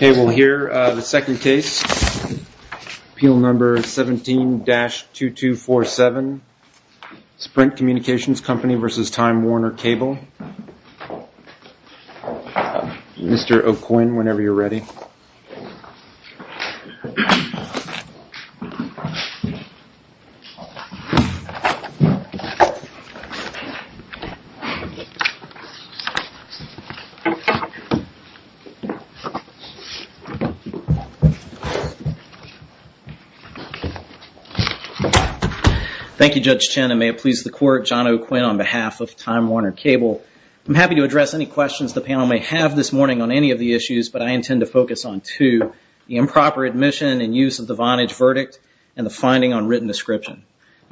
Okay, we'll hear the second case, Appeal Number 17-2247, Sprint Communications Company v. Time Warner Cable. Mr. O'Quinn, whenever you're ready. Thank you, Judge Chen, and may it please the Court, John O'Quinn on behalf of Time Warner Cable. I'm happy to address any questions the panel may have this morning on any of the issues, but I intend to focus on two, the improper admission and use of the Vonage verdict and the finding on written description.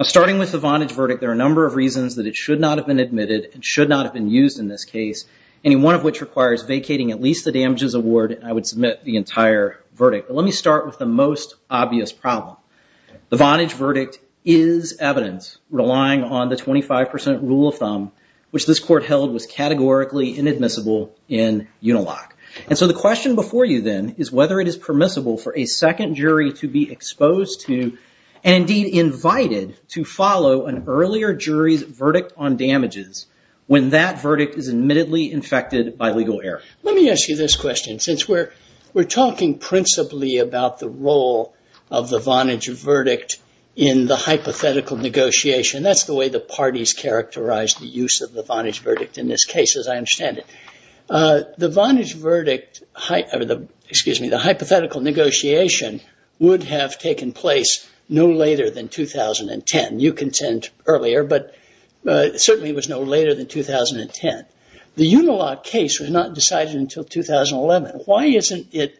Starting with the Vonage verdict, there are a number of reasons that it should not have been admitted and should not have been used in this case, any one of which requires vacating at least the damages award, and I would submit the entire verdict. But let me start with the most obvious problem. The Vonage verdict is evidence relying on the 25% rule of thumb, which this Court held was categorically inadmissible in Unilock. And so the question before you then is whether it is permissible for a second jury to be exposed to and indeed invited to follow an earlier jury's verdict on damages when that verdict is admittedly infected by legal error. Let me ask you this question. Since we're talking principally about the role of the Vonage verdict in the hypothetical negotiation, that's the way the parties characterize the Vonage verdict in this case, as I understand it. The Vonage verdict, excuse me, the hypothetical negotiation would have taken place no later than 2010. You contend earlier, but certainly it was no later than 2010. The Unilock case was not decided until 2011. Why isn't it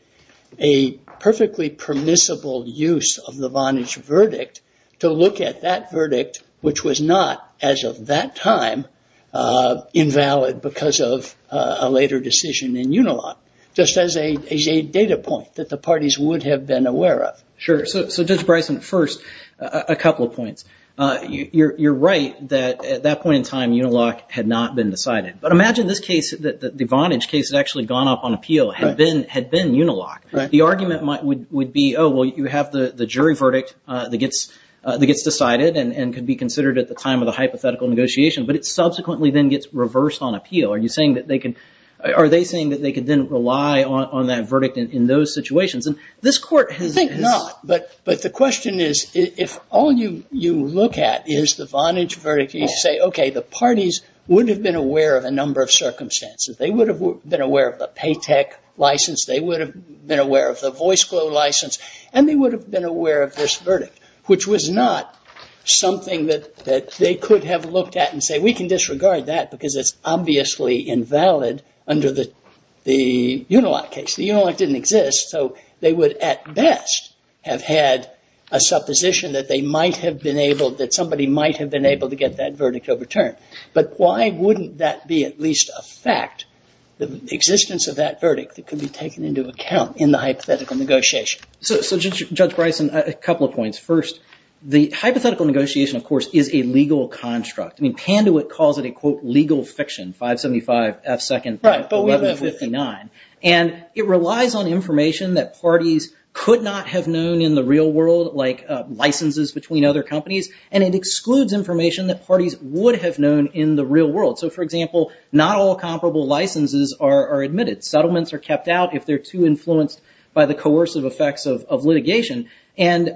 a perfectly permissible use of the Vonage verdict to look at that verdict, which was not as of that time invalid because of a later decision in Unilock, just as a data point that the parties would have been aware of? Sure. So Judge Bryson, first, a couple of points. You're right that at that point in time Unilock had not been decided. But imagine this case, the Vonage case had actually gone up on appeal, had been Unilock. The argument would be, oh, well, you have the jury verdict that gets decided and can be considered at the time of the hypothetical negotiation, but it subsequently then gets reversed on appeal. Are you saying that they could, are they saying that they could then rely on that verdict in those situations? This Court has... I think not. But the question is, if all you look at is the Vonage verdict, you say, okay, the parties would have been aware of a number of circumstances. They would have been aware of the Paytech license, they would have been aware of the VoiceGlo license, and they would have been aware of this verdict, which was not something that they could have looked at and say, we can disregard that because it's obviously invalid under the Unilock case. The Unilock didn't exist, so they would at best have had a supposition that they might have been able, that somebody might have been able to get that verdict overturned. But why wouldn't that be at least a fact, the existence of that verdict that could be taken into account in the hypothetical negotiation? So, Judge Bryson, a couple of points. First, the hypothetical negotiation, of course, is a legal construct. I mean, Pandewitt calls it a, quote, legal fiction, 575F2.1159. And it relies on information that parties could not have known in the real world, like licenses between other companies, and it excludes information that parties would have known in the real world. So, for example, not all comparable licenses are admitted. Settlements are kept out if they're too influenced by the coercive effects of litigation. And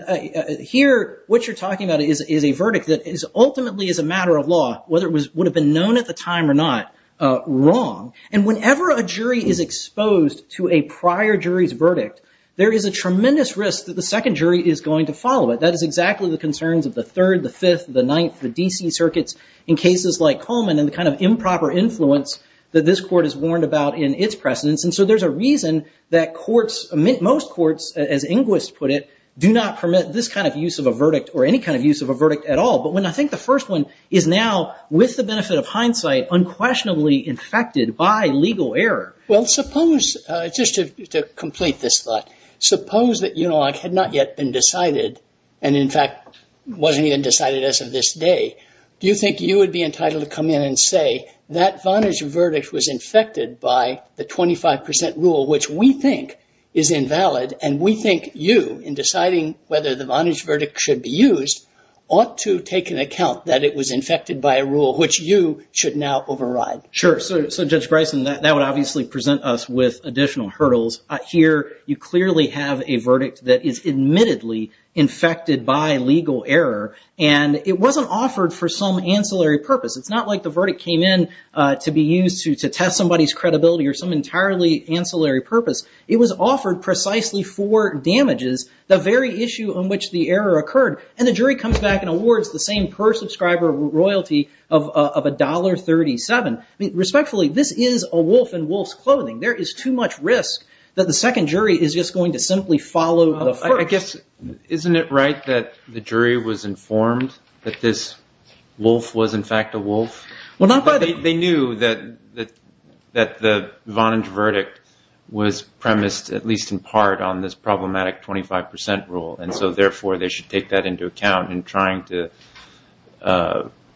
here, what you're talking about is a verdict that ultimately is a matter of law, whether it would have been known at the time or not, wrong. And whenever a jury is exposed to a prior jury's verdict, there is a tremendous risk that the second jury is going to follow it. That is exactly the concerns of the third, the fifth, the ninth, the D.C. circuits in cases like Coleman and the kind of improper influence that this court has warned about in its precedence. And so there's a reason that courts, most courts, as Inguist put it, do not permit this kind of use of a verdict or any kind of use of a verdict at all. But when I think the first one is now, with the benefit of hindsight, unquestionably infected by legal error. Well, suppose, just to complete this thought, suppose that, you know, it had not yet been decided and, in fact, wasn't even decided as of this day. Do you think you would be which we think is invalid? And we think you, in deciding whether the Vonage verdict should be used, ought to take into account that it was infected by a rule which you should now override? Sure. So, Judge Bryson, that would obviously present us with additional hurdles. Here, you clearly have a verdict that is admittedly infected by legal error. And it wasn't offered for some ancillary purpose. It's not like the verdict came in to be used to test somebody's ancillary purpose. It was offered precisely for damages, the very issue on which the error occurred. And the jury comes back and awards the same per-subscriber royalty of $1.37. I mean, respectfully, this is a wolf in wolf's clothing. There is too much risk that the second jury is just going to simply follow the first. I guess, isn't it right that the jury was informed that this wolf was, in fact, a wolf? They knew that the Vonage verdict was premised, at least in part, on this problematic 25 percent rule. And so, therefore, they should take that into account in trying to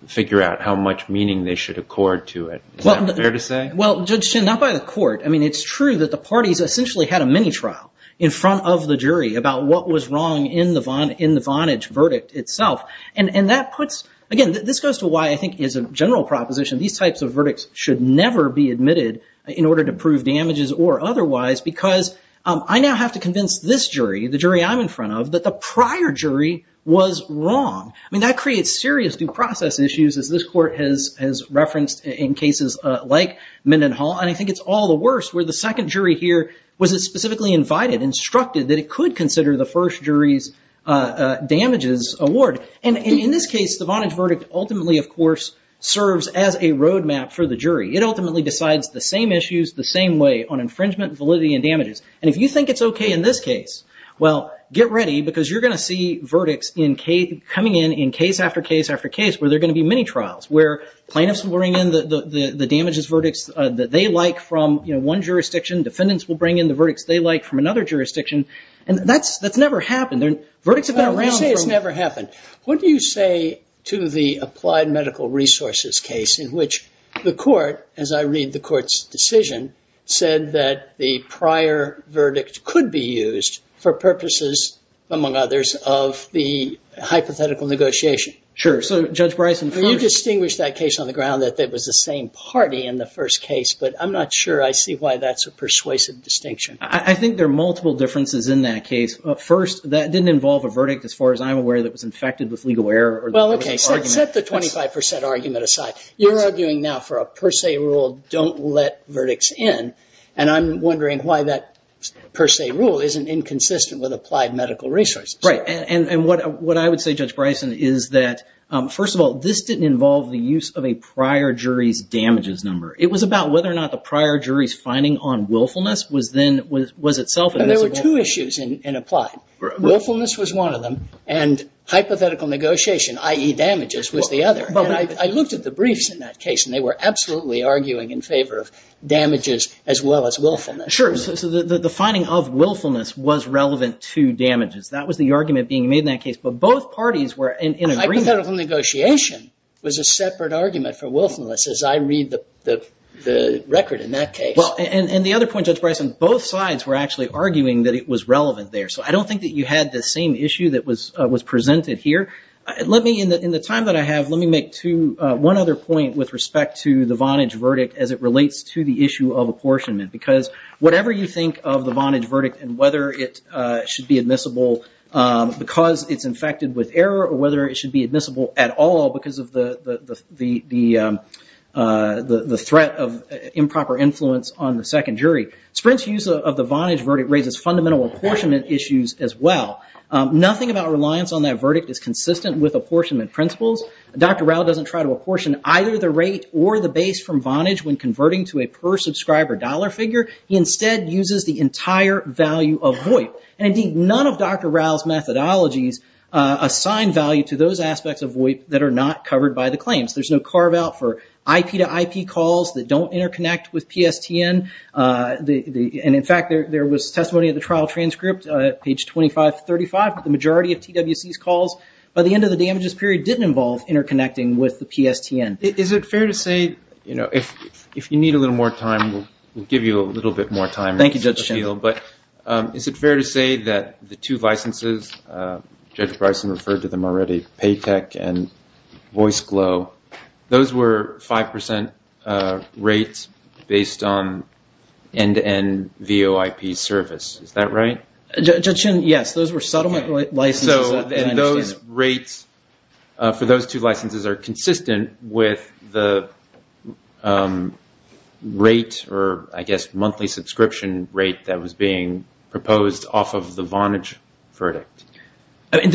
figure out how much meaning they should accord to it. Is that fair to say? Well, Judge Chin, not by the court. I mean, it's true that the parties essentially had a mini-trial in front of the jury about what was wrong in the Vonage verdict itself. And that puts, again, this goes to why I think, as a general proposition, these types of verdicts should never be admitted in order to prove damages or otherwise, because I now have to convince this jury, the jury I'm in front of, that the prior jury was wrong. I mean, that creates serious due process issues, as this court has referenced in cases like Mendenhall. And I think it's all the worse where the second jury here was specifically invited, instructed that it could consider the first jury's damages award. And in this case, the Vonage verdict ultimately, of course, serves as a road map for the jury. It ultimately decides the same issues the same way on infringement, validity, and damages. And if you think it's OK in this case, well, get ready, because you're going to see verdicts coming in, in case after case after case, where there are going to be mini-trials, where plaintiffs will bring in the damages verdicts that they like from one jurisdiction, defendants will bring in the verdicts they like from another jurisdiction. And that's never happened. Verdicts have been around I don't want to say it's never happened. What do you say to the Applied Medical Resources case in which the court, as I read the court's decision, said that the prior verdict could be used for purposes, among others, of the hypothetical negotiation? Sure. So, Judge Bryson... Can you distinguish that case on the ground, that it was the same party in the first case? But I'm not sure I see why that's a persuasive distinction. I think there are multiple differences in that case. First, that didn't involve a verdict, as far as I'm aware, that was infected with legal error. Well, OK. Set the 25% argument aside. You're arguing now for a per se rule, don't let verdicts in. And I'm wondering why that per se rule isn't inconsistent with Applied Medical Resources. Right. And what I would say, Judge Bryson, is that, first of all, this didn't involve the use of a prior jury's damages number. It was about whether or not the prior jury's ruling on willfulness was then, was itself... And there were two issues in Applied. Willfulness was one of them, and hypothetical negotiation, i.e. damages, was the other. And I looked at the briefs in that case, and they were absolutely arguing in favor of damages as well as willfulness. Sure. So the finding of willfulness was relevant to damages. That was the argument being made in that case. But both parties were in agreement... Hypothetical negotiation was a separate argument for willfulness, as I read the record in that case. And the other point, Judge Bryson, both sides were actually arguing that it was relevant there. So I don't think that you had the same issue that was presented here. Let me, in the time that I have, let me make one other point with respect to the Vonage verdict as it relates to the issue of apportionment. Because whatever you think of the Vonage verdict and whether it should be admissible because it's infected with error, or whether it should be admissible at all because of the threat of improper influence on the second jury, Sprint's use of the Vonage verdict raises fundamental apportionment issues as well. Nothing about reliance on that verdict is consistent with apportionment principles. Dr. Rao doesn't try to apportion either the rate or the base from Vonage when converting to a per subscriber dollar figure. He instead uses the entire value of VoIP. And indeed, none of Dr. Rao's methodologies assign value to those aspects of VoIP that are not covered by the claims. There's no carve out for IP to IP calls that don't interconnect with PSTN. And in fact, there was testimony of the trial transcript, page 2535, but the majority of TWC's calls, by the end of the damages period, didn't involve interconnecting with the PSTN. Is it fair to say, you know, if you need a little more time, we'll give you a little bit more time. Thank you, Judge Schindel. But is it fair to say that the two licenses, Judge Bryson referred to them already, PayTech and VoiceGlo, those were 5% rates based on end-to-end VoIP service. Is that right? Judge Schindel, yes. Those were settlement licenses. So those rates for those two licenses are consistent with the rate, or I guess monthly subscription rate that was being proposed off of the Vonage verdict. Is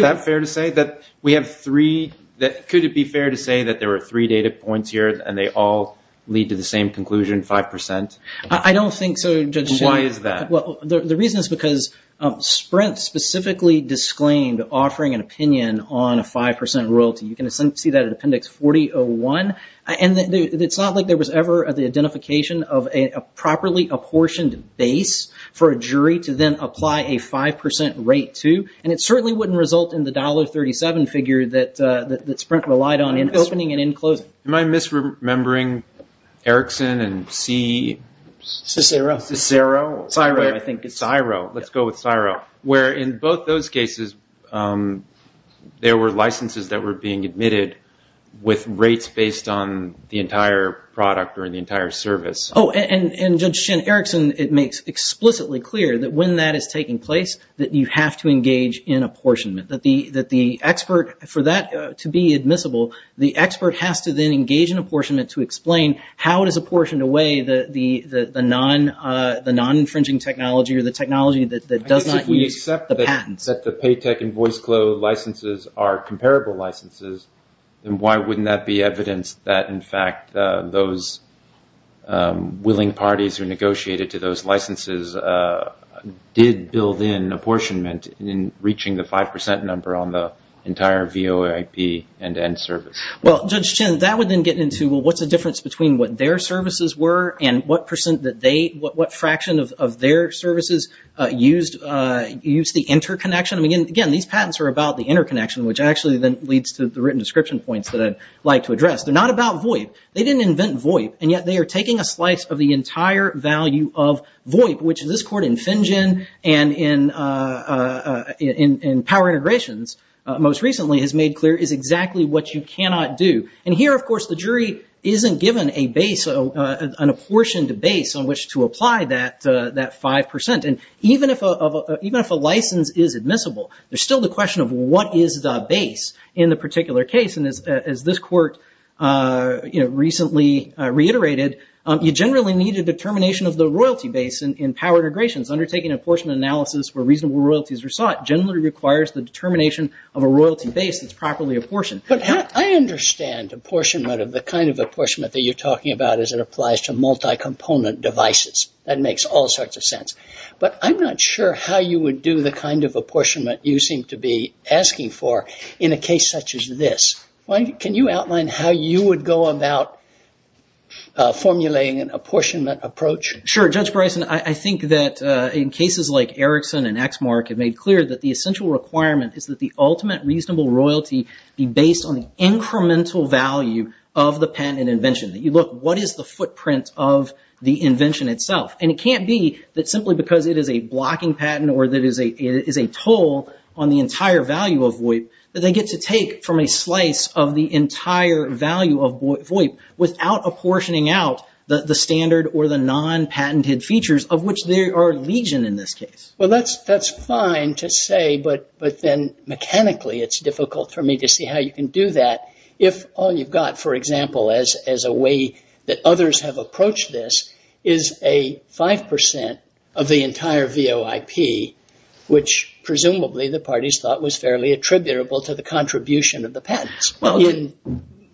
that fair to say that we have three, could it be fair to say that there were three data points here and they all lead to the same conclusion, 5%? I don't think so, Judge Schindel. Why is that? Well, the reason is because Sprint specifically disclaimed offering an opinion on a 5% royalty. You can see that in Appendix 4001. And it's not like there was ever the identification of a properly apportioned base for a jury to then apply a 5% rate to. And it certainly wouldn't result in the $1.37 figure that Sprint relied on in opening and in closing. Am I misremembering Erickson and C? Cicero. Cicero. Ciro, I think. Ciro. Let's go with Ciro. Where in both those cases, there were licenses that were being admitted with rates based on the entire product or the entire service. Oh, and Judge Schindel, Erickson, it makes explicitly clear that when that is taking place, that you have to engage in apportionment. That the expert, for that to be admissible, the expert has to then engage in apportionment to explain how it is apportioned away, the non-infringing technology or the technology that does not use the patents. If we accept that the Paytech and VoiceGlo licenses are comparable licenses, then why wouldn't that be evidence that, in fact, those willing parties who negotiated to those licenses did build in apportionment in reaching the 5% number on the entire VOIP and end service? Well, Judge Schindel, that would then get into, well, what's the difference between what their services were and what fraction of their services used the interconnection? I mean, again, these patents are about the interconnection, which actually then leads to the written description points that I'd like to address. They're not about VOIP. They didn't invent VOIP, and yet they are taking a slice of the entire value of VOIP, which this Court in Finjen and in Power Integrations most recently has made clear is exactly what you cannot do. And here, of course, the jury isn't given an apportioned base on which to apply that 5%. And even if a license is admissible, there's still the question of what is the base in the particular case. And as this Court recently reiterated, you generally need a determination of the royalty base in Power Integrations. Undertaking apportionment analysis where reasonable royalties are sought generally requires the determination of a royalty base that's properly apportioned. But I understand apportionment of the kind of apportionment that you're talking about as it applies to multi-component devices. That makes all sorts of sense. But I'm not sure how you would do the kind of apportionment you seem to be asking for in a case such as this. Can you outline how you would go about formulating an apportionment approach? Sure. Judge Bryson, I think that in cases like Erickson and Exmark have made clear that the essential requirement is that the ultimate reasonable royalty be based on the incremental value of the patent and invention. You look, what is the footprint of the invention itself? And it can't be that simply because it is a blocking patent or that it is a toll on the entire value of VoIP that they get to take from a slice of the entire value of VoIP without apportioning out the standard or the non-patented features of which they are legion in this case. Well, that's fine to say, but then mechanically it's difficult for me to see how you can do that if all you've got, for example, as a way that others have approached this is a 5% of the entire VoIP, which presumably the parties thought was fairly attributable to the contribution of the patents in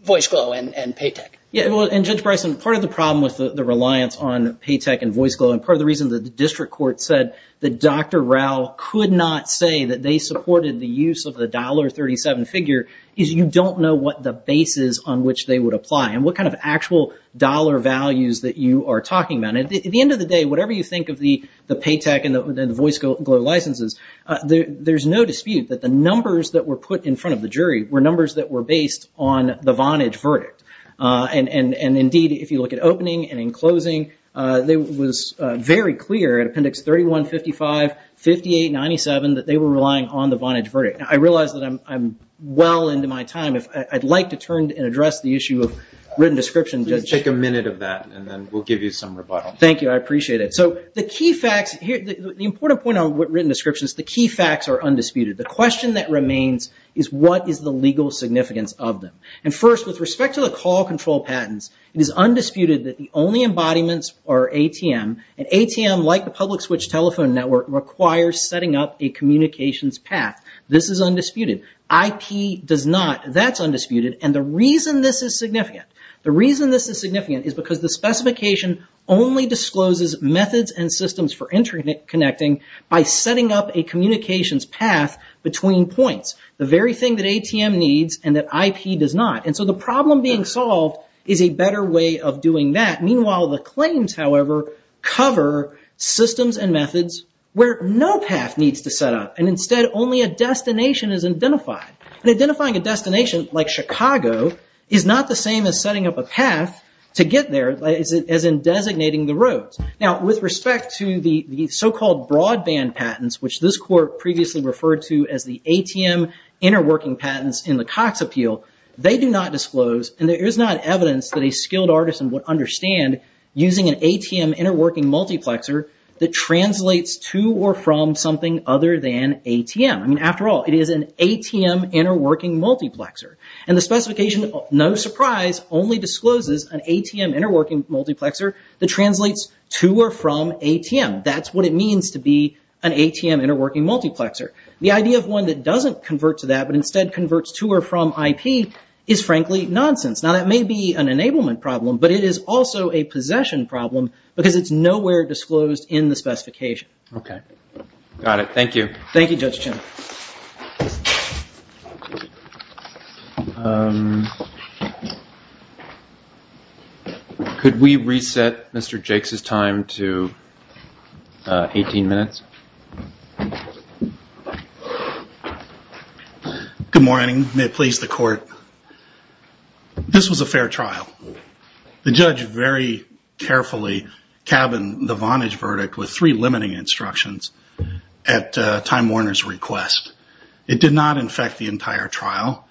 VoiceGlo and Paytech. Yeah, and Judge Bryson, part of the problem with the reliance on Paytech and VoiceGlo and part of the reason that the district court said that Dr. Rao could not say that they supported the use of the $1.37 figure is you don't know what the basis on which they would apply and what kind of actual dollar values that you are talking about. At the end of the day, whatever you think of the Paytech and the VoiceGlo licenses, there's no dispute that the numbers that were put in front of the jury were numbers that were based on the Vonage verdict. And indeed, if you look at opening and in closing, it was very clear at Appendix 31, 55, 58, 97 that they were relying on the Vonage verdict. I realize that I'm well into my time. If I'd like to turn and address the issue of written description, Judge. Take a minute of that and then we'll give you some rebuttal. Thank you. I appreciate it. So the key facts, the important point on written description is the key facts are undisputed. The question that remains is what is the legal significance of them? And first, with respect to the call control patents, it is undisputed that the only embodiments are ATM and ATM, like the public switch telephone network, requires setting up a communications path. This is undisputed. IP does not. That's undisputed and the reason this is significant. The reason this is significant is because the specification only discloses methods and systems for interconnecting by setting up a communications path between points. The very thing that ATM needs and that IP does not. And so the problem being solved is a better way of doing that. Meanwhile, the claims, however, cover systems and methods where no path needs to set up and instead only a destination is identified. And identifying a destination like Chicago is not the same as setting up a path to get there as in designating the roads. Now, with respect to the so-called broadband patents, which this court previously referred to as the ATM interworking patents in the Cox Appeal, they do not disclose and there is not evidence that a skilled artisan would understand using an ATM interworking multiplexer that translates to or from something other than ATM. I mean, after all, it is an ATM interworking multiplexer and the specification, no surprise, only discloses an ATM interworking multiplexer that translates to or from ATM. That's what it means to be an ATM interworking multiplexer. The idea of one that doesn't convert to that but instead converts to or from IP is frankly nonsense. Now, that may be an enablement problem, but it is also a possession problem because it's nowhere disclosed in the specification. Okay, got it. Thank you. Thank you, Judge Chen. Could we reset Mr. Jakes' time to 18 minutes? Good morning. May it please the court. This was a fair trial. The judge very carefully cabined the Vonage verdict with three limiting instructions at Time Warner's request. It did not infect the entire trial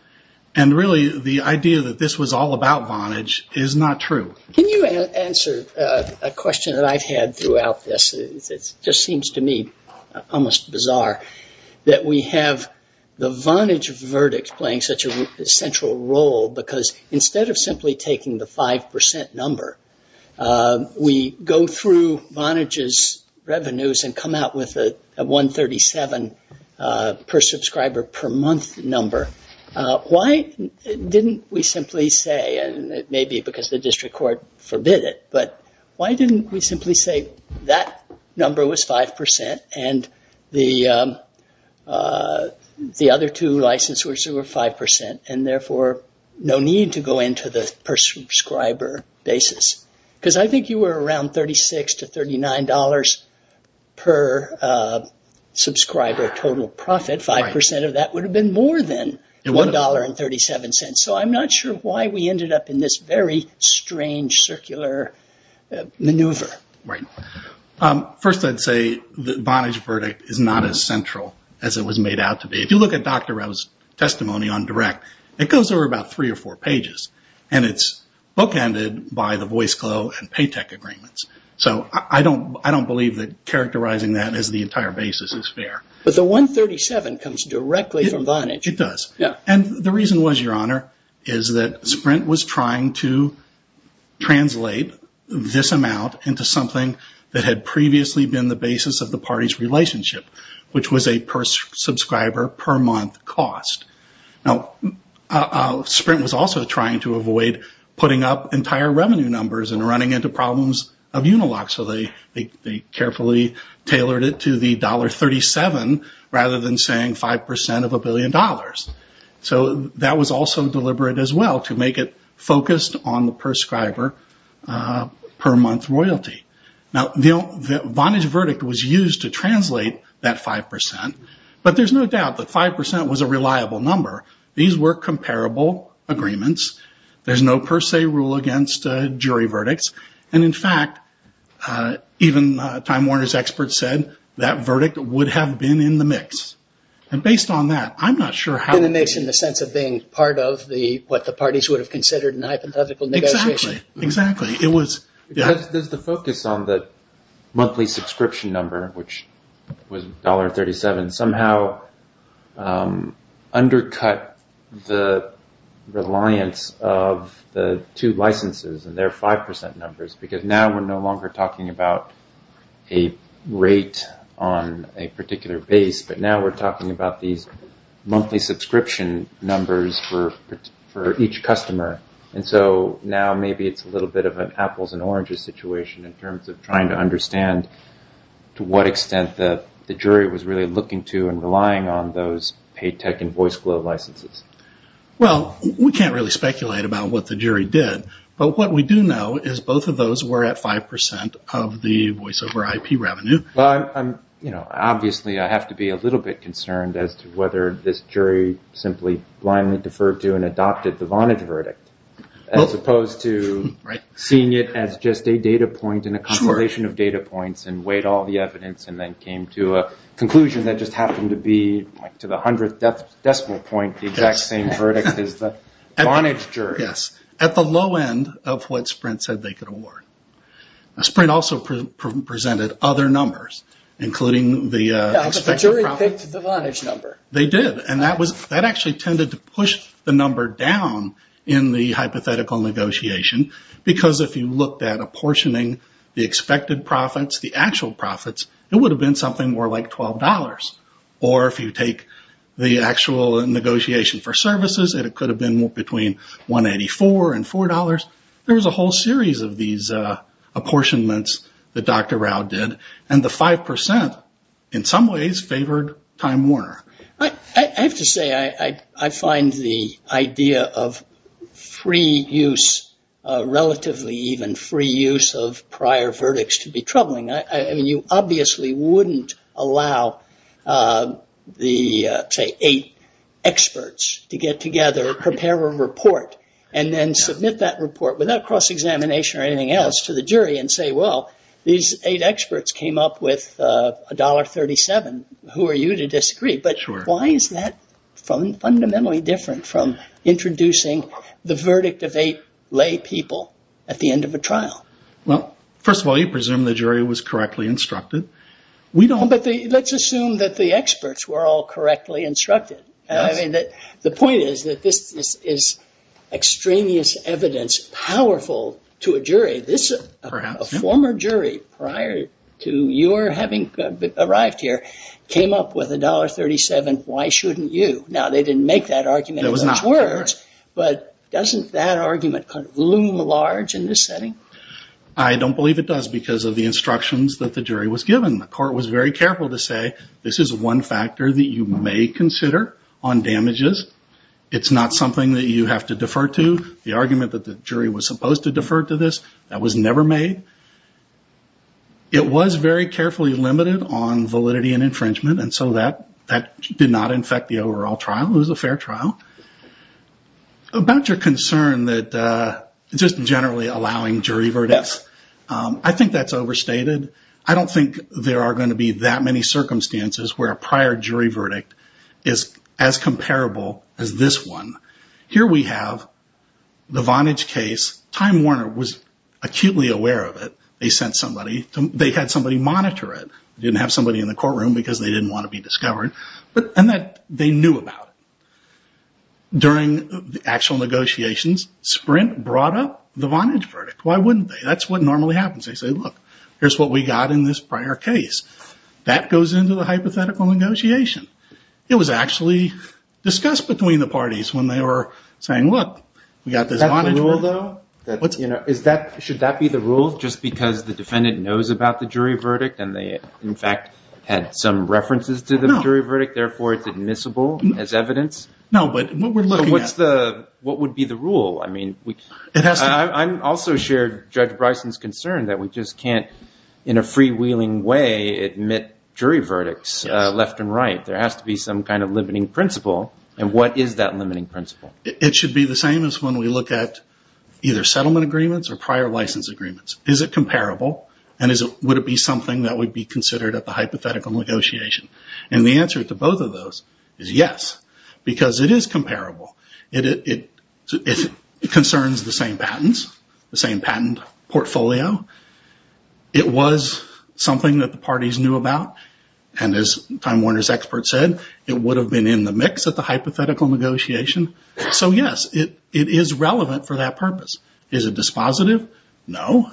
and really the idea that this was all about Vonage is not true. Can you answer a question that I've had throughout this? It just seems to me almost bizarre that we have the Vonage verdict playing such a central role because instead of simply taking the 5% number, we go through Vonage's revenues and come out with a 137 per subscriber per month number. Why didn't we simply say, and it may be because the district court forbid it, but why didn't we simply say that number was 5% and the other two licensors were 5% and therefore no need to go into the per subscriber basis? I think you were around $36 to $39 per subscriber total profit. 5% of that would have been more than $1.37. I'm not sure why we ended up in this very strange circular maneuver. First, I'd say the Vonage verdict is not as central as it was made out to be. If you look at Dr. Rowe's testimony on direct, it goes over about three or four pages and it's bookended by the VoiceClo and Paytech agreements. So I don't believe that characterizing that as the entire basis is fair. But the 137 comes directly from Vonage. It does. And the reason was, Your Honor, is that Sprint was trying to translate this amount into something that had previously been the basis of the party's relationship, which was a per subscriber per month cost. Now, Sprint was also trying to avoid putting up entire revenue numbers and running into problems of Unilock. So they carefully tailored it to the $1.37 rather than saying 5% of a billion dollars. So that was also deliberate as well to make it focused on the per subscriber per month royalty. Now, the Vonage verdict was used to translate that 5%, but there's no doubt that 5% was a reliable number. These were comparable agreements. There's no per se rule against jury verdicts. And in fact, even Time Warner's experts said that verdict would have been in the mix. And based on that, I'm not sure how- And it makes in the sense of being part of what the parties would have considered an hypothetical negotiation. Exactly. It was- Does the focus on the monthly subscription number, which was $1.37, somehow undercut the reliance of the two licenses and their 5% numbers? Because now we're no longer talking about a rate on a particular base, but now we're talking about these monthly subscription numbers for each customer. And so now maybe it's a little bit of an apples and oranges situation in terms of trying to understand to what extent the jury was really looking to and relying on those pay tech and voice glow licenses. Well, we can't really speculate about what the jury did. But what we do know is both of those were at 5% of the voice over IP revenue. Well, obviously, I have to be a little bit concerned as to whether this jury simply blindly deferred to and adopted the Vonage verdict as opposed to seeing it as just a data point in a compilation of data points and weighed all the evidence and then came to a conclusion that just happened to be to the hundredth decimal point the exact same verdict as the Vonage jury. Yes. At the low end of what Sprint said they could award. Sprint also presented other numbers, including the expected profit- No, but the jury picked the Vonage number. They did. That actually tended to push the number down in the hypothetical negotiation. Because if you looked at apportioning the expected profits, the actual profits, it would have been something more like $12. Or if you take the actual negotiation for services, it could have been between $184 and $4. There was a whole series of these apportionments that Dr. Rao did. And the 5%, in some ways, favored Time Warner. I have to say, I find the idea of relatively even free use of prior verdicts to be troubling. You obviously wouldn't allow, say, eight experts to get together, prepare a report, and then submit that report without cross-examination or anything else to the jury and say, well, these eight experts came up with $1.37. Who are you to disagree? Why is that fundamentally different from introducing the verdict of eight lay people at the end of a trial? Well, first of all, you presume the jury was correctly instructed. Let's assume that the experts were all correctly instructed. The point is that this is extraneous evidence powerful to a jury. A former jury, prior to your having arrived here, came up with $1.37. Why shouldn't you? Now, they didn't make that argument in those words, but doesn't that argument loom large in this setting? I don't believe it does because of the instructions that the jury was given. The court was very careful to say, this is one factor that you may consider on damages. It's not something that you have to defer to. The argument that the jury was supposed to defer to this, that was never made. It was very carefully limited on validity and infringement, and so that did not infect the overall trial. It was a fair trial. About your concern that just generally allowing jury verdicts, I think that's overstated. I don't think there are going to be that many circumstances where a prior jury verdict is as comparable as this one. Here we have the Vonage case. Time Warner was acutely aware of it. They had somebody monitor it. They didn't have somebody in the courtroom because they didn't want to be discovered. They knew about it. During the actual negotiations, Sprint brought up the Vonage verdict. Why wouldn't they? That's what normally happens. They say, look, here's what we got in this prior case. That goes into the hypothetical negotiation. It was actually discussed between the parties when they were saying, look, we got this Vonage verdict. Should that be the rule, just because the defendant knows about the jury verdict, and they, in fact, had some references to the jury verdict, therefore it's admissible as evidence? No, but what we're looking at- But what would be the rule? I also shared Judge Bryson's concern that we just can't, in a freewheeling way, admit jury verdicts left and right. There has to be some kind of limiting principle. And what is that limiting principle? It should be the same as when we look at either settlement agreements or prior license agreements. Is it comparable? And would it be something that would be considered at the hypothetical negotiation? And the answer to both of those is yes, because it is comparable. It concerns the same patents, the same patent portfolio. It was something that the parties knew about. And as Time Warner's expert said, it would have been in the mix at the hypothetical negotiation. So yes, it is relevant for that purpose. Is it dispositive? No.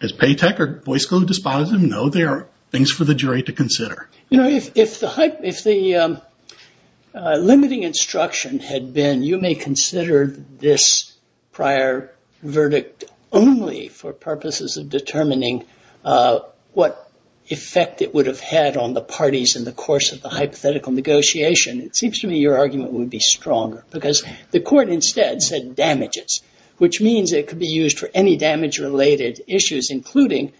Is Paytech or Boyce School dispositive? No. They are things for the jury to consider. You know, if the limiting instruction had been, you may consider this prior verdict only for purposes of determining what effect it would have had on the parties in the course of the hypothetical negotiation, it seems to me your argument would be stronger. Because the court instead said damages, which means it could be used for any damage-related issues, including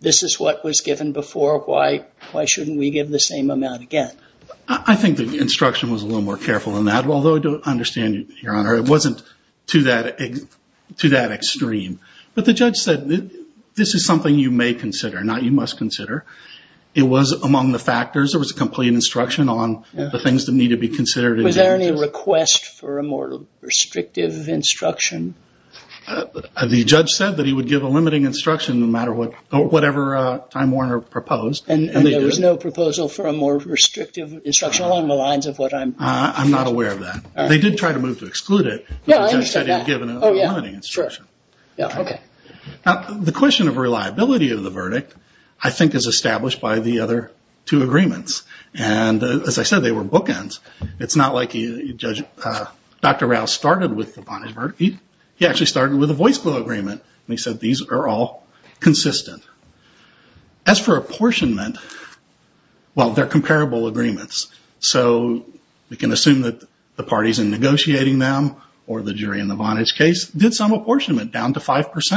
this is what was given before. Why shouldn't we give the same amount again? I think the instruction was a little more careful than that. Although I understand, Your Honor, it wasn't to that extreme. But the judge said this is something you may consider, not you must consider. It was among the factors. There was a complete instruction on the things that need to be considered. Was there any request for a more restrictive instruction? The judge said that he would give a limiting instruction no matter what, whatever Time Warner proposed. And there was no proposal for a more restrictive instruction along the lines of what I'm... I'm not aware of that. They did try to move to exclude it. Yeah, I understand that. But the judge said he'd given a limiting instruction. Yeah, okay. Now, the question of reliability of the verdict, I think, is established by the other two agreements. And as I said, they were bookends. It's not like Dr. Rouse started with the Vonage verdict. He actually started with a voice bill agreement. And he said these are all consistent. As for apportionment, well, they're comparable agreements. So we can assume that the parties in negotiating them, or the jury in the Vonage case, did some apportionment down to 5%.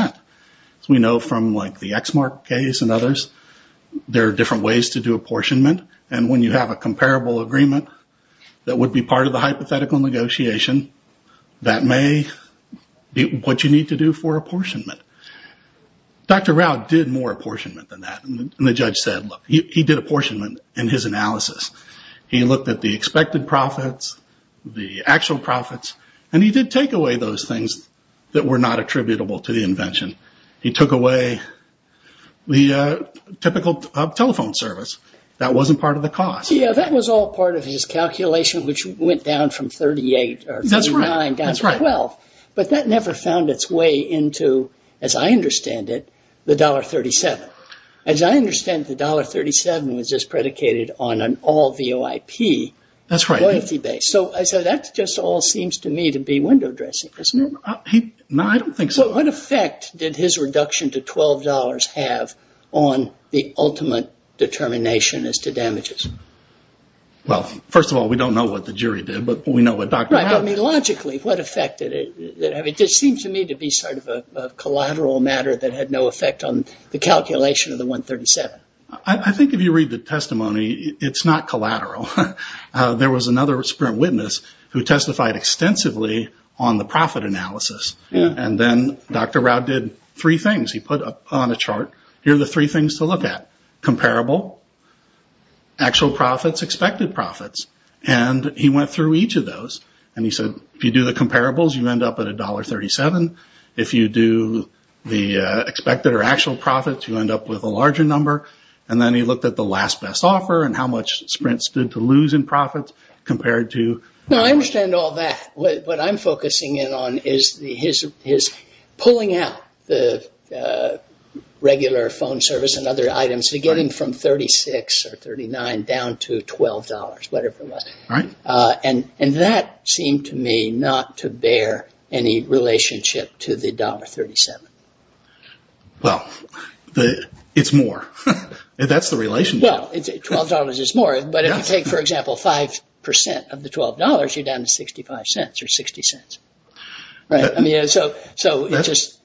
As we know from like the Exmark case and others, there are different ways to do apportionment. And when you have a comparable agreement that would be part of the hypothetical negotiation, that may be what you need to do for apportionment. Dr. Rouse did more apportionment than that. And the judge said, look, he did apportionment in his analysis. He looked at the expected profits, the actual profits, and he did take away those things that were not attributable to the invention. He took away the typical telephone service. That wasn't part of the cost. Yeah, that was all part of his calculation, which went down from 38 or 39 down to 12. But that never found its way into, as I understand it, the $1.37. As I understand it, the $1.37 was just predicated on an all VOIP. That's right. Loyalty base. So that just all seems to me to be window dressing. No, I don't think so. What effect did his reduction to $12 have on the ultimate determination as to damages? Well, first of all, we don't know what the jury did, but we know what Dr. Rouse did. Logically, what effect did it have? It just seems to me to be sort of a collateral matter that had no effect on the calculation of the $1.37. I think if you read the testimony, it's not collateral. There was another witness who testified extensively on the profit analysis. And then Dr. Rouse did three things. He put on a chart, here are the three things to look at. Comparable, actual profits, expected profits. And he went through each of those. And he said, if you do the comparables, you end up at $1.37. If you do the expected or actual profits, you end up with a larger number. And then he looked at the last best offer and how much Sprint stood to lose in profits compared to... Now, I understand all that. What I'm focusing in on is his pulling out the regular phone service and other items, getting from $36 or $39 down to $12, whatever it was. And that seemed to me not to bear any relationship to the $1.37. Well, it's more. That's the relationship. Well, $12 is more. But if you take, for example, 5% of the $12, you're down to $0.65 or $0.60. So it's just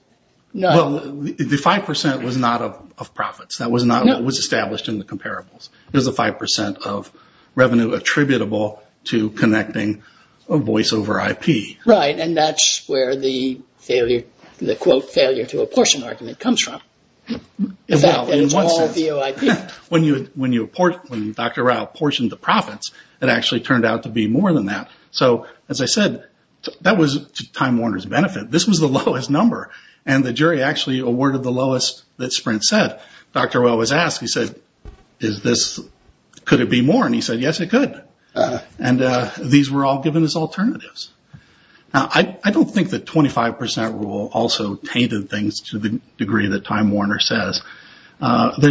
not... Well, the 5% was not of profits. That was not what was established in the comparables. It was the 5% of revenue attributable to connecting a voice over IP. Right. And that's where the failure, the quote, failure to apportion argument comes from. When Dr. Rao apportioned the profits, it actually turned out to be more than that. So as I said, that was Time Warner's benefit. This was the lowest number. And the jury actually awarded the lowest that Sprint said. Dr. Rao was asked, he said, could it be more? And he said, yes, it could. And these were all given as alternatives. Now, I don't think the 25% rule also tainted things to the degree that Time Warner says. There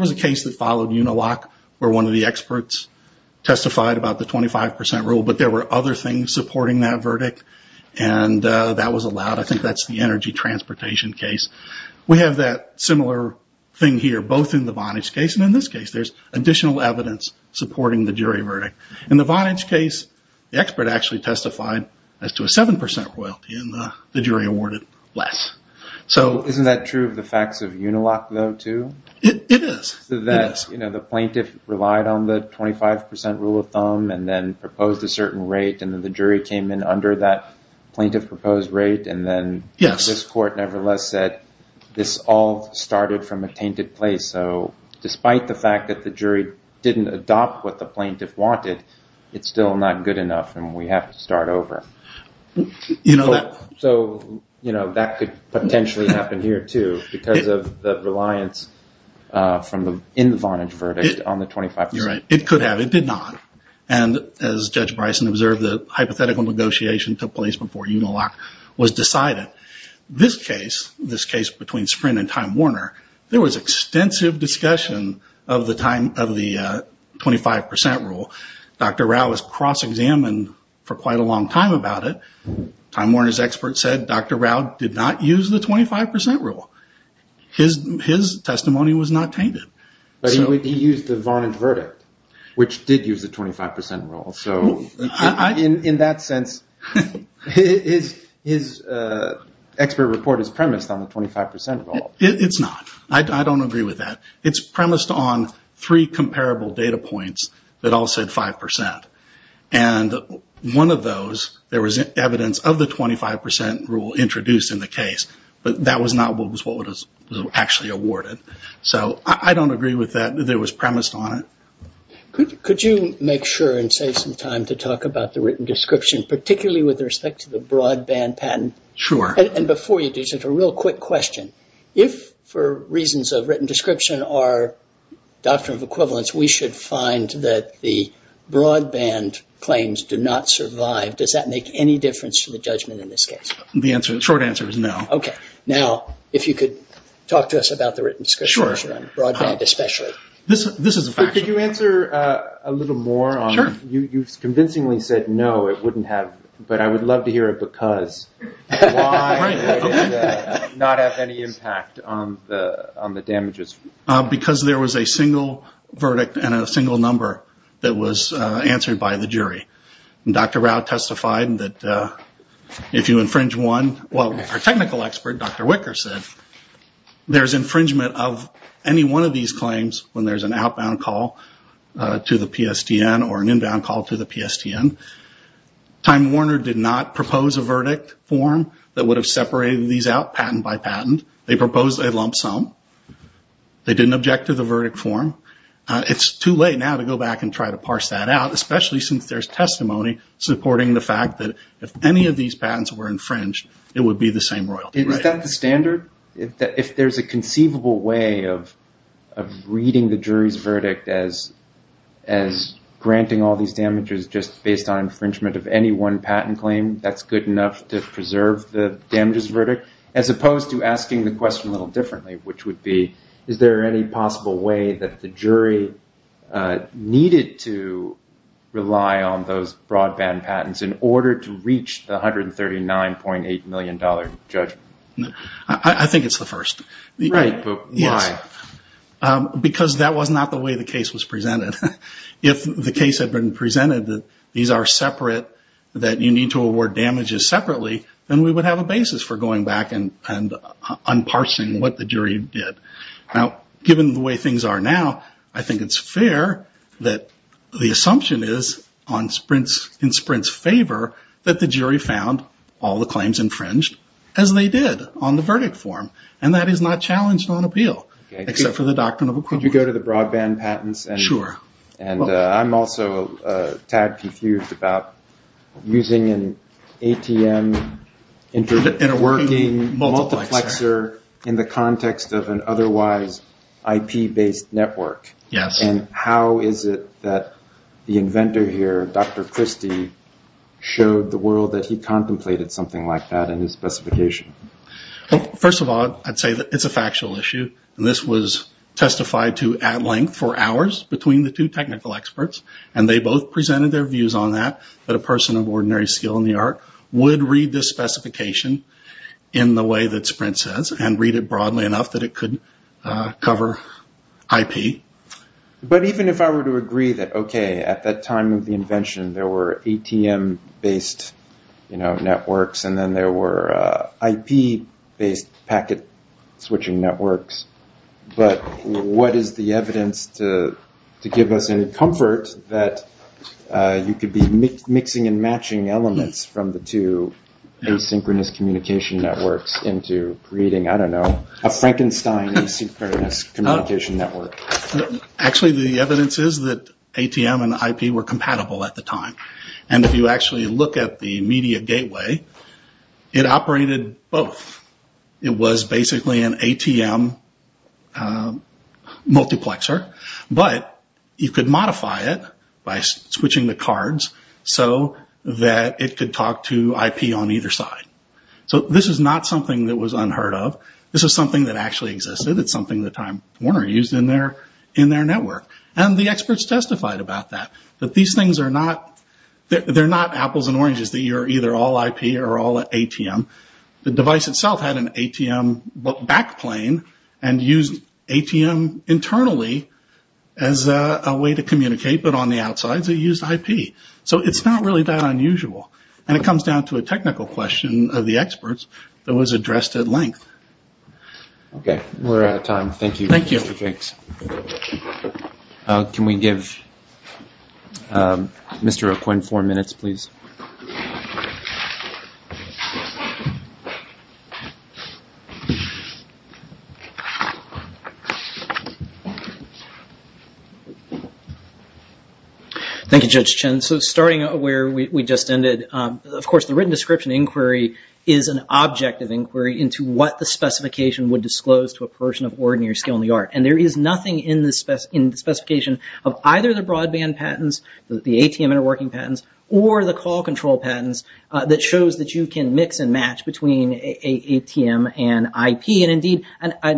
was a case that followed Unilock where one of the experts testified about the 25% rule. But there were other things supporting that verdict. And that was allowed. I think that's the energy transportation case. We have that similar thing here, both in the Vonage case. And in this case, there's additional evidence supporting the jury verdict. In the Vonage case, the expert actually testified as to a 7% royalty. And the jury awarded less. Isn't that true of the facts of Unilock, though, too? It is. The plaintiff relied on the 25% rule of thumb and then proposed a certain rate. And then the jury came in under that plaintiff proposed rate. And then this court, nevertheless, said this all started from a tainted place. So despite the fact that the jury didn't adopt what the plaintiff wanted, it's still not good enough. And we have to start over. So that could potentially happen here, too, because of the reliance in the Vonage verdict on the 25%. You're right. It could have. It did not. And as Judge Bryson observed, the hypothetical negotiation took place before Unilock was decided. This case, this case between Sprint and Time Warner, there was extensive discussion of the 25% rule. Dr. Rao was cross-examined for quite a long time about it. Time Warner's expert said Dr. Rao did not use the 25% rule. His testimony was not tainted. But he used the Vonage verdict, which did use the 25% rule. So in that sense, his expert report is premised on the 25% rule. It's not. I don't agree with that. It's premised on three comparable data points that all said 5%. And one of those, there was evidence of the 25% rule introduced in the case. But that was not what was actually awarded. So I don't agree with that. It was premised on it. Could you make sure and save some time to talk about the written description, particularly with respect to the broadband patent? Sure. And before you do, just a real quick question. If, for reasons of written description or doctrine of equivalence, we should find that the broadband claims do not survive, does that make any difference to the judgment in this case? The short answer is no. OK. Now, if you could talk to us about the written description, broadband especially. This is a fact. Could you answer a little more? Sure. You've convincingly said no, it wouldn't have. But I would love to hear a because. Why did it not have any impact on the damages? Because there was a single verdict and a single number that was answered by the jury. Dr. Rao testified that if you infringe one, well, our technical expert, Dr. Wicker said, there's infringement of any one of these claims when there's an outbound call to the PSTN or an inbound call to the PSTN. Time Warner did not propose a verdict form that would have separated these out patent by patent. They proposed a lump sum. They didn't object to the verdict form. It's too late now to go back and try to parse that out, especially since there's testimony supporting the fact that if any of these patents were infringed, it would be the same royal. Is that the standard? If there's a conceivable way of reading the jury's verdict as granting all these damages just based on infringement of any one patent claim, that's good enough to preserve the damages verdict? As opposed to asking the question a little differently, which would be, is there any possible way that the jury needed to rely on those broadband patents in order to reach the $139.8 million, Judge? I think it's the first. Right, but why? Because that was not the way the case was presented. If the case had been presented that these are separate, that you need to award damages separately, then we would have a basis for going back and unparsing what the jury did. Now, given the way things are now, I think it's fair that the assumption is in Sprint's that the jury found all the claims infringed as they did on the verdict form, and that is not challenged on appeal, except for the doctrine of equivalent. Could you go to the broadband patents? Sure. And I'm also a tad confused about using an ATM interworking multiplexer in the context of an otherwise IP-based network. Yes. How is it that the inventor here, Dr. Christie, showed the world that he contemplated something like that in his specification? First of all, I'd say that it's a factual issue. This was testified to at length for hours between the two technical experts, and they both presented their views on that, that a person of ordinary skill in the art would read this specification in the way that Sprint says, and read it broadly enough that it could cover IP. But even if I were to agree that, okay, at that time of the invention, there were ATM-based networks, and then there were IP-based packet switching networks, but what is the evidence to give us any comfort that you could be mixing and matching elements from the two asynchronous communication networks into creating, I don't know, a Frankenstein asynchronous communication network? Actually, the evidence is that ATM and IP were compatible at the time. And if you actually look at the media gateway, it operated both. It was basically an ATM multiplexer, but you could modify it by switching the cards so that it could talk to IP on either side. So this is not something that was unheard of. This is something that actually existed. It's something that Time Warner used in their network. And the experts testified about that, that these things are not, they're not apples and oranges, that you're either all IP or all ATM. The device itself had an ATM backplane and used ATM internally as a way to communicate, but on the outsides it used IP. So it's not really that unusual. And it comes down to a technical question of the experts that was addressed at length. Okay. We're out of time. Thank you, Mr. Jenks. Can we give Mr. O'Quinn four minutes, please? Thank you, Judge Chen. So starting where we just ended, of course, the written description inquiry is an object of inquiry into what the specification would disclose to a person of ordinary skill in the art. And there is nothing in the specification of either the broadband patents, the ATM interworking patents, or the call control patents that shows that you can mix and match between an ATM and IP. And indeed an IP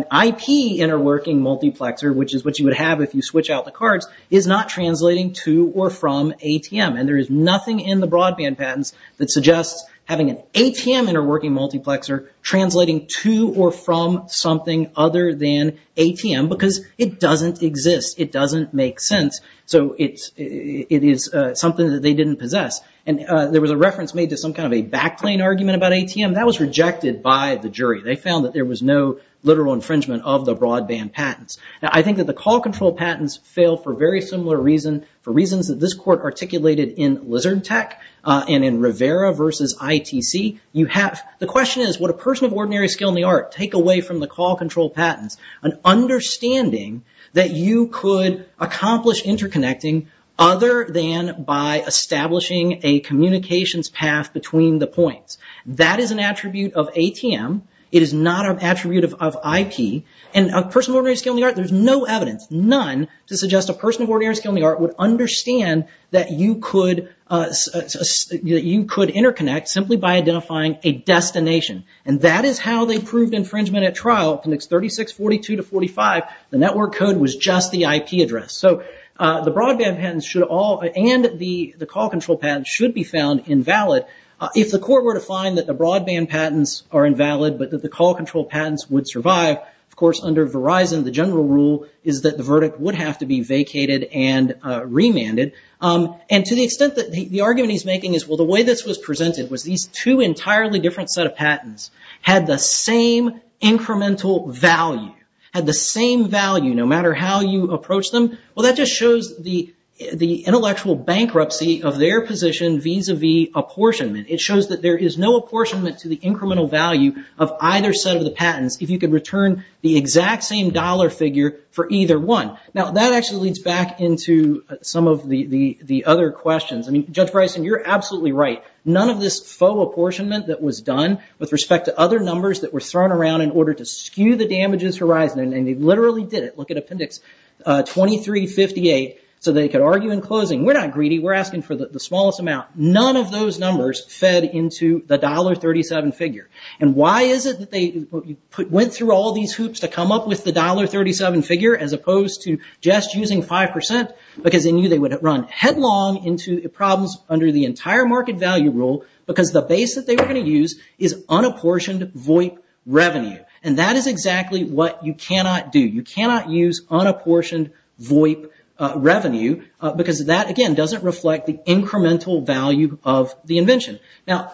interworking multiplexer, which is what you would have if you switch out the cards, is not translating to or from ATM. And there is nothing in the broadband patents that suggests having an ATM interworking multiplexer translating to or from something other than ATM because it doesn't exist. It doesn't make sense. So it is something that they didn't possess. And there was a reference made to some kind of a backplane argument about ATM. That was rejected by the jury. They found that there was no literal infringement of the broadband patents. I think that the call control patents fail for very similar reasons, for reasons that this court articulated in Lizard Tech and in Rivera versus ITC. You have, the question is, would a person of ordinary skill in the art take away from the call control patents an understanding that you could accomplish interconnecting other than by establishing a communications path between the points? That is an attribute of ATM. It is not an attribute of IP. And a person of ordinary skill in the art, there's no evidence, none, to suggest a person of ordinary skill in the art would understand that you could interconnect simply by identifying a destination. And that is how they proved infringement at trial, appendix 3642 to 45. The network code was just the IP address. So the broadband patents should all, and the call control patents should be found invalid. If the court were to find that the broadband patents are invalid, but that the call control patents would survive, of course, under Verizon, the general rule is that the verdict would have to be vacated and remanded. And to the extent that the argument he's making is, well, the way this was presented was these two entirely different set of patents had the same incremental value, had the same value, no matter how you approach them. Well, that just shows the intellectual bankruptcy of their position vis-a-vis apportionment. It shows that there is no apportionment to the incremental value of either set of the patents if you could return the exact same dollar figure for either one. Now, that actually leads back into some of the other questions. I mean, Judge Bryson, you're absolutely right. None of this faux apportionment that was done with respect to other numbers that were thrown around in order to skew the damages horizon, and they literally did it. Look at appendix 2358. So they could argue in closing, we're not greedy, we're asking for the smallest amount. None of those numbers fed into the $1.37 figure. And why is it that they went through all these hoops to come up with the $1.37 figure as opposed to just using 5%? Because they knew they would run headlong into problems under the entire market value rule because the base that they were going to use is unapportioned VOIP revenue. And that is exactly what you cannot do. You cannot use unapportioned VOIP revenue because that, again, doesn't reflect the incremental value of the invention. Now,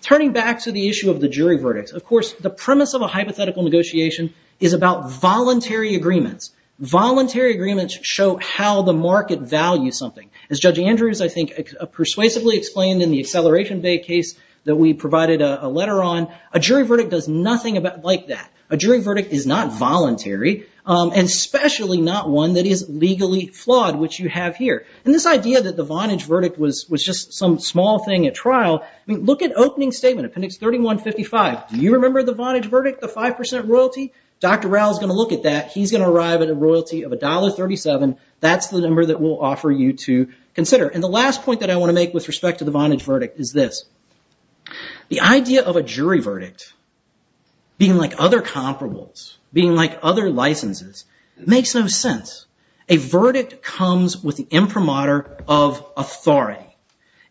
turning back to the issue of the jury verdicts, of course, the premise of a hypothetical negotiation is about voluntary agreements. Voluntary agreements show how the market values something. As Judge Andrews, I think, persuasively explained in the Acceleration Bay case that we provided a letter on, a jury verdict does nothing like that. A jury verdict is not voluntary, and especially not one that is legally flawed, which you have here. And this idea that the Vonage verdict was just some small thing at trial, I mean, look at opening statement, appendix 3155. Do you remember the Vonage verdict? The 5% royalty? Dr. Rowell is going to look at that. He's going to arrive at a royalty of $1.37. That's the number that we'll offer you to consider. And the last point that I want to make with respect to the Vonage verdict is this. The idea of a jury verdict being like other comparables, being like other licenses, makes no sense. A verdict comes with the imprimatur of authority.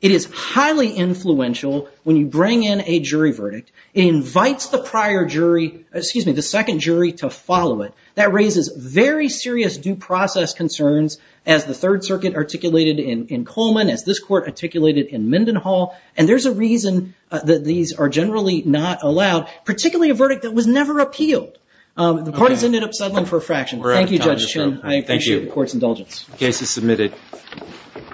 It is highly influential when you bring in a jury verdict. It invites the prior jury, excuse me, the second jury to follow it. That raises very serious due process concerns, as the Third Circuit articulated in Coleman, as this court articulated in Mendenhall. And there's a reason that these are generally not allowed, particularly a verdict that was never appealed. The parties ended up settling for a fraction. Thank you, Judge Chin. I appreciate the court's indulgence. Thank you.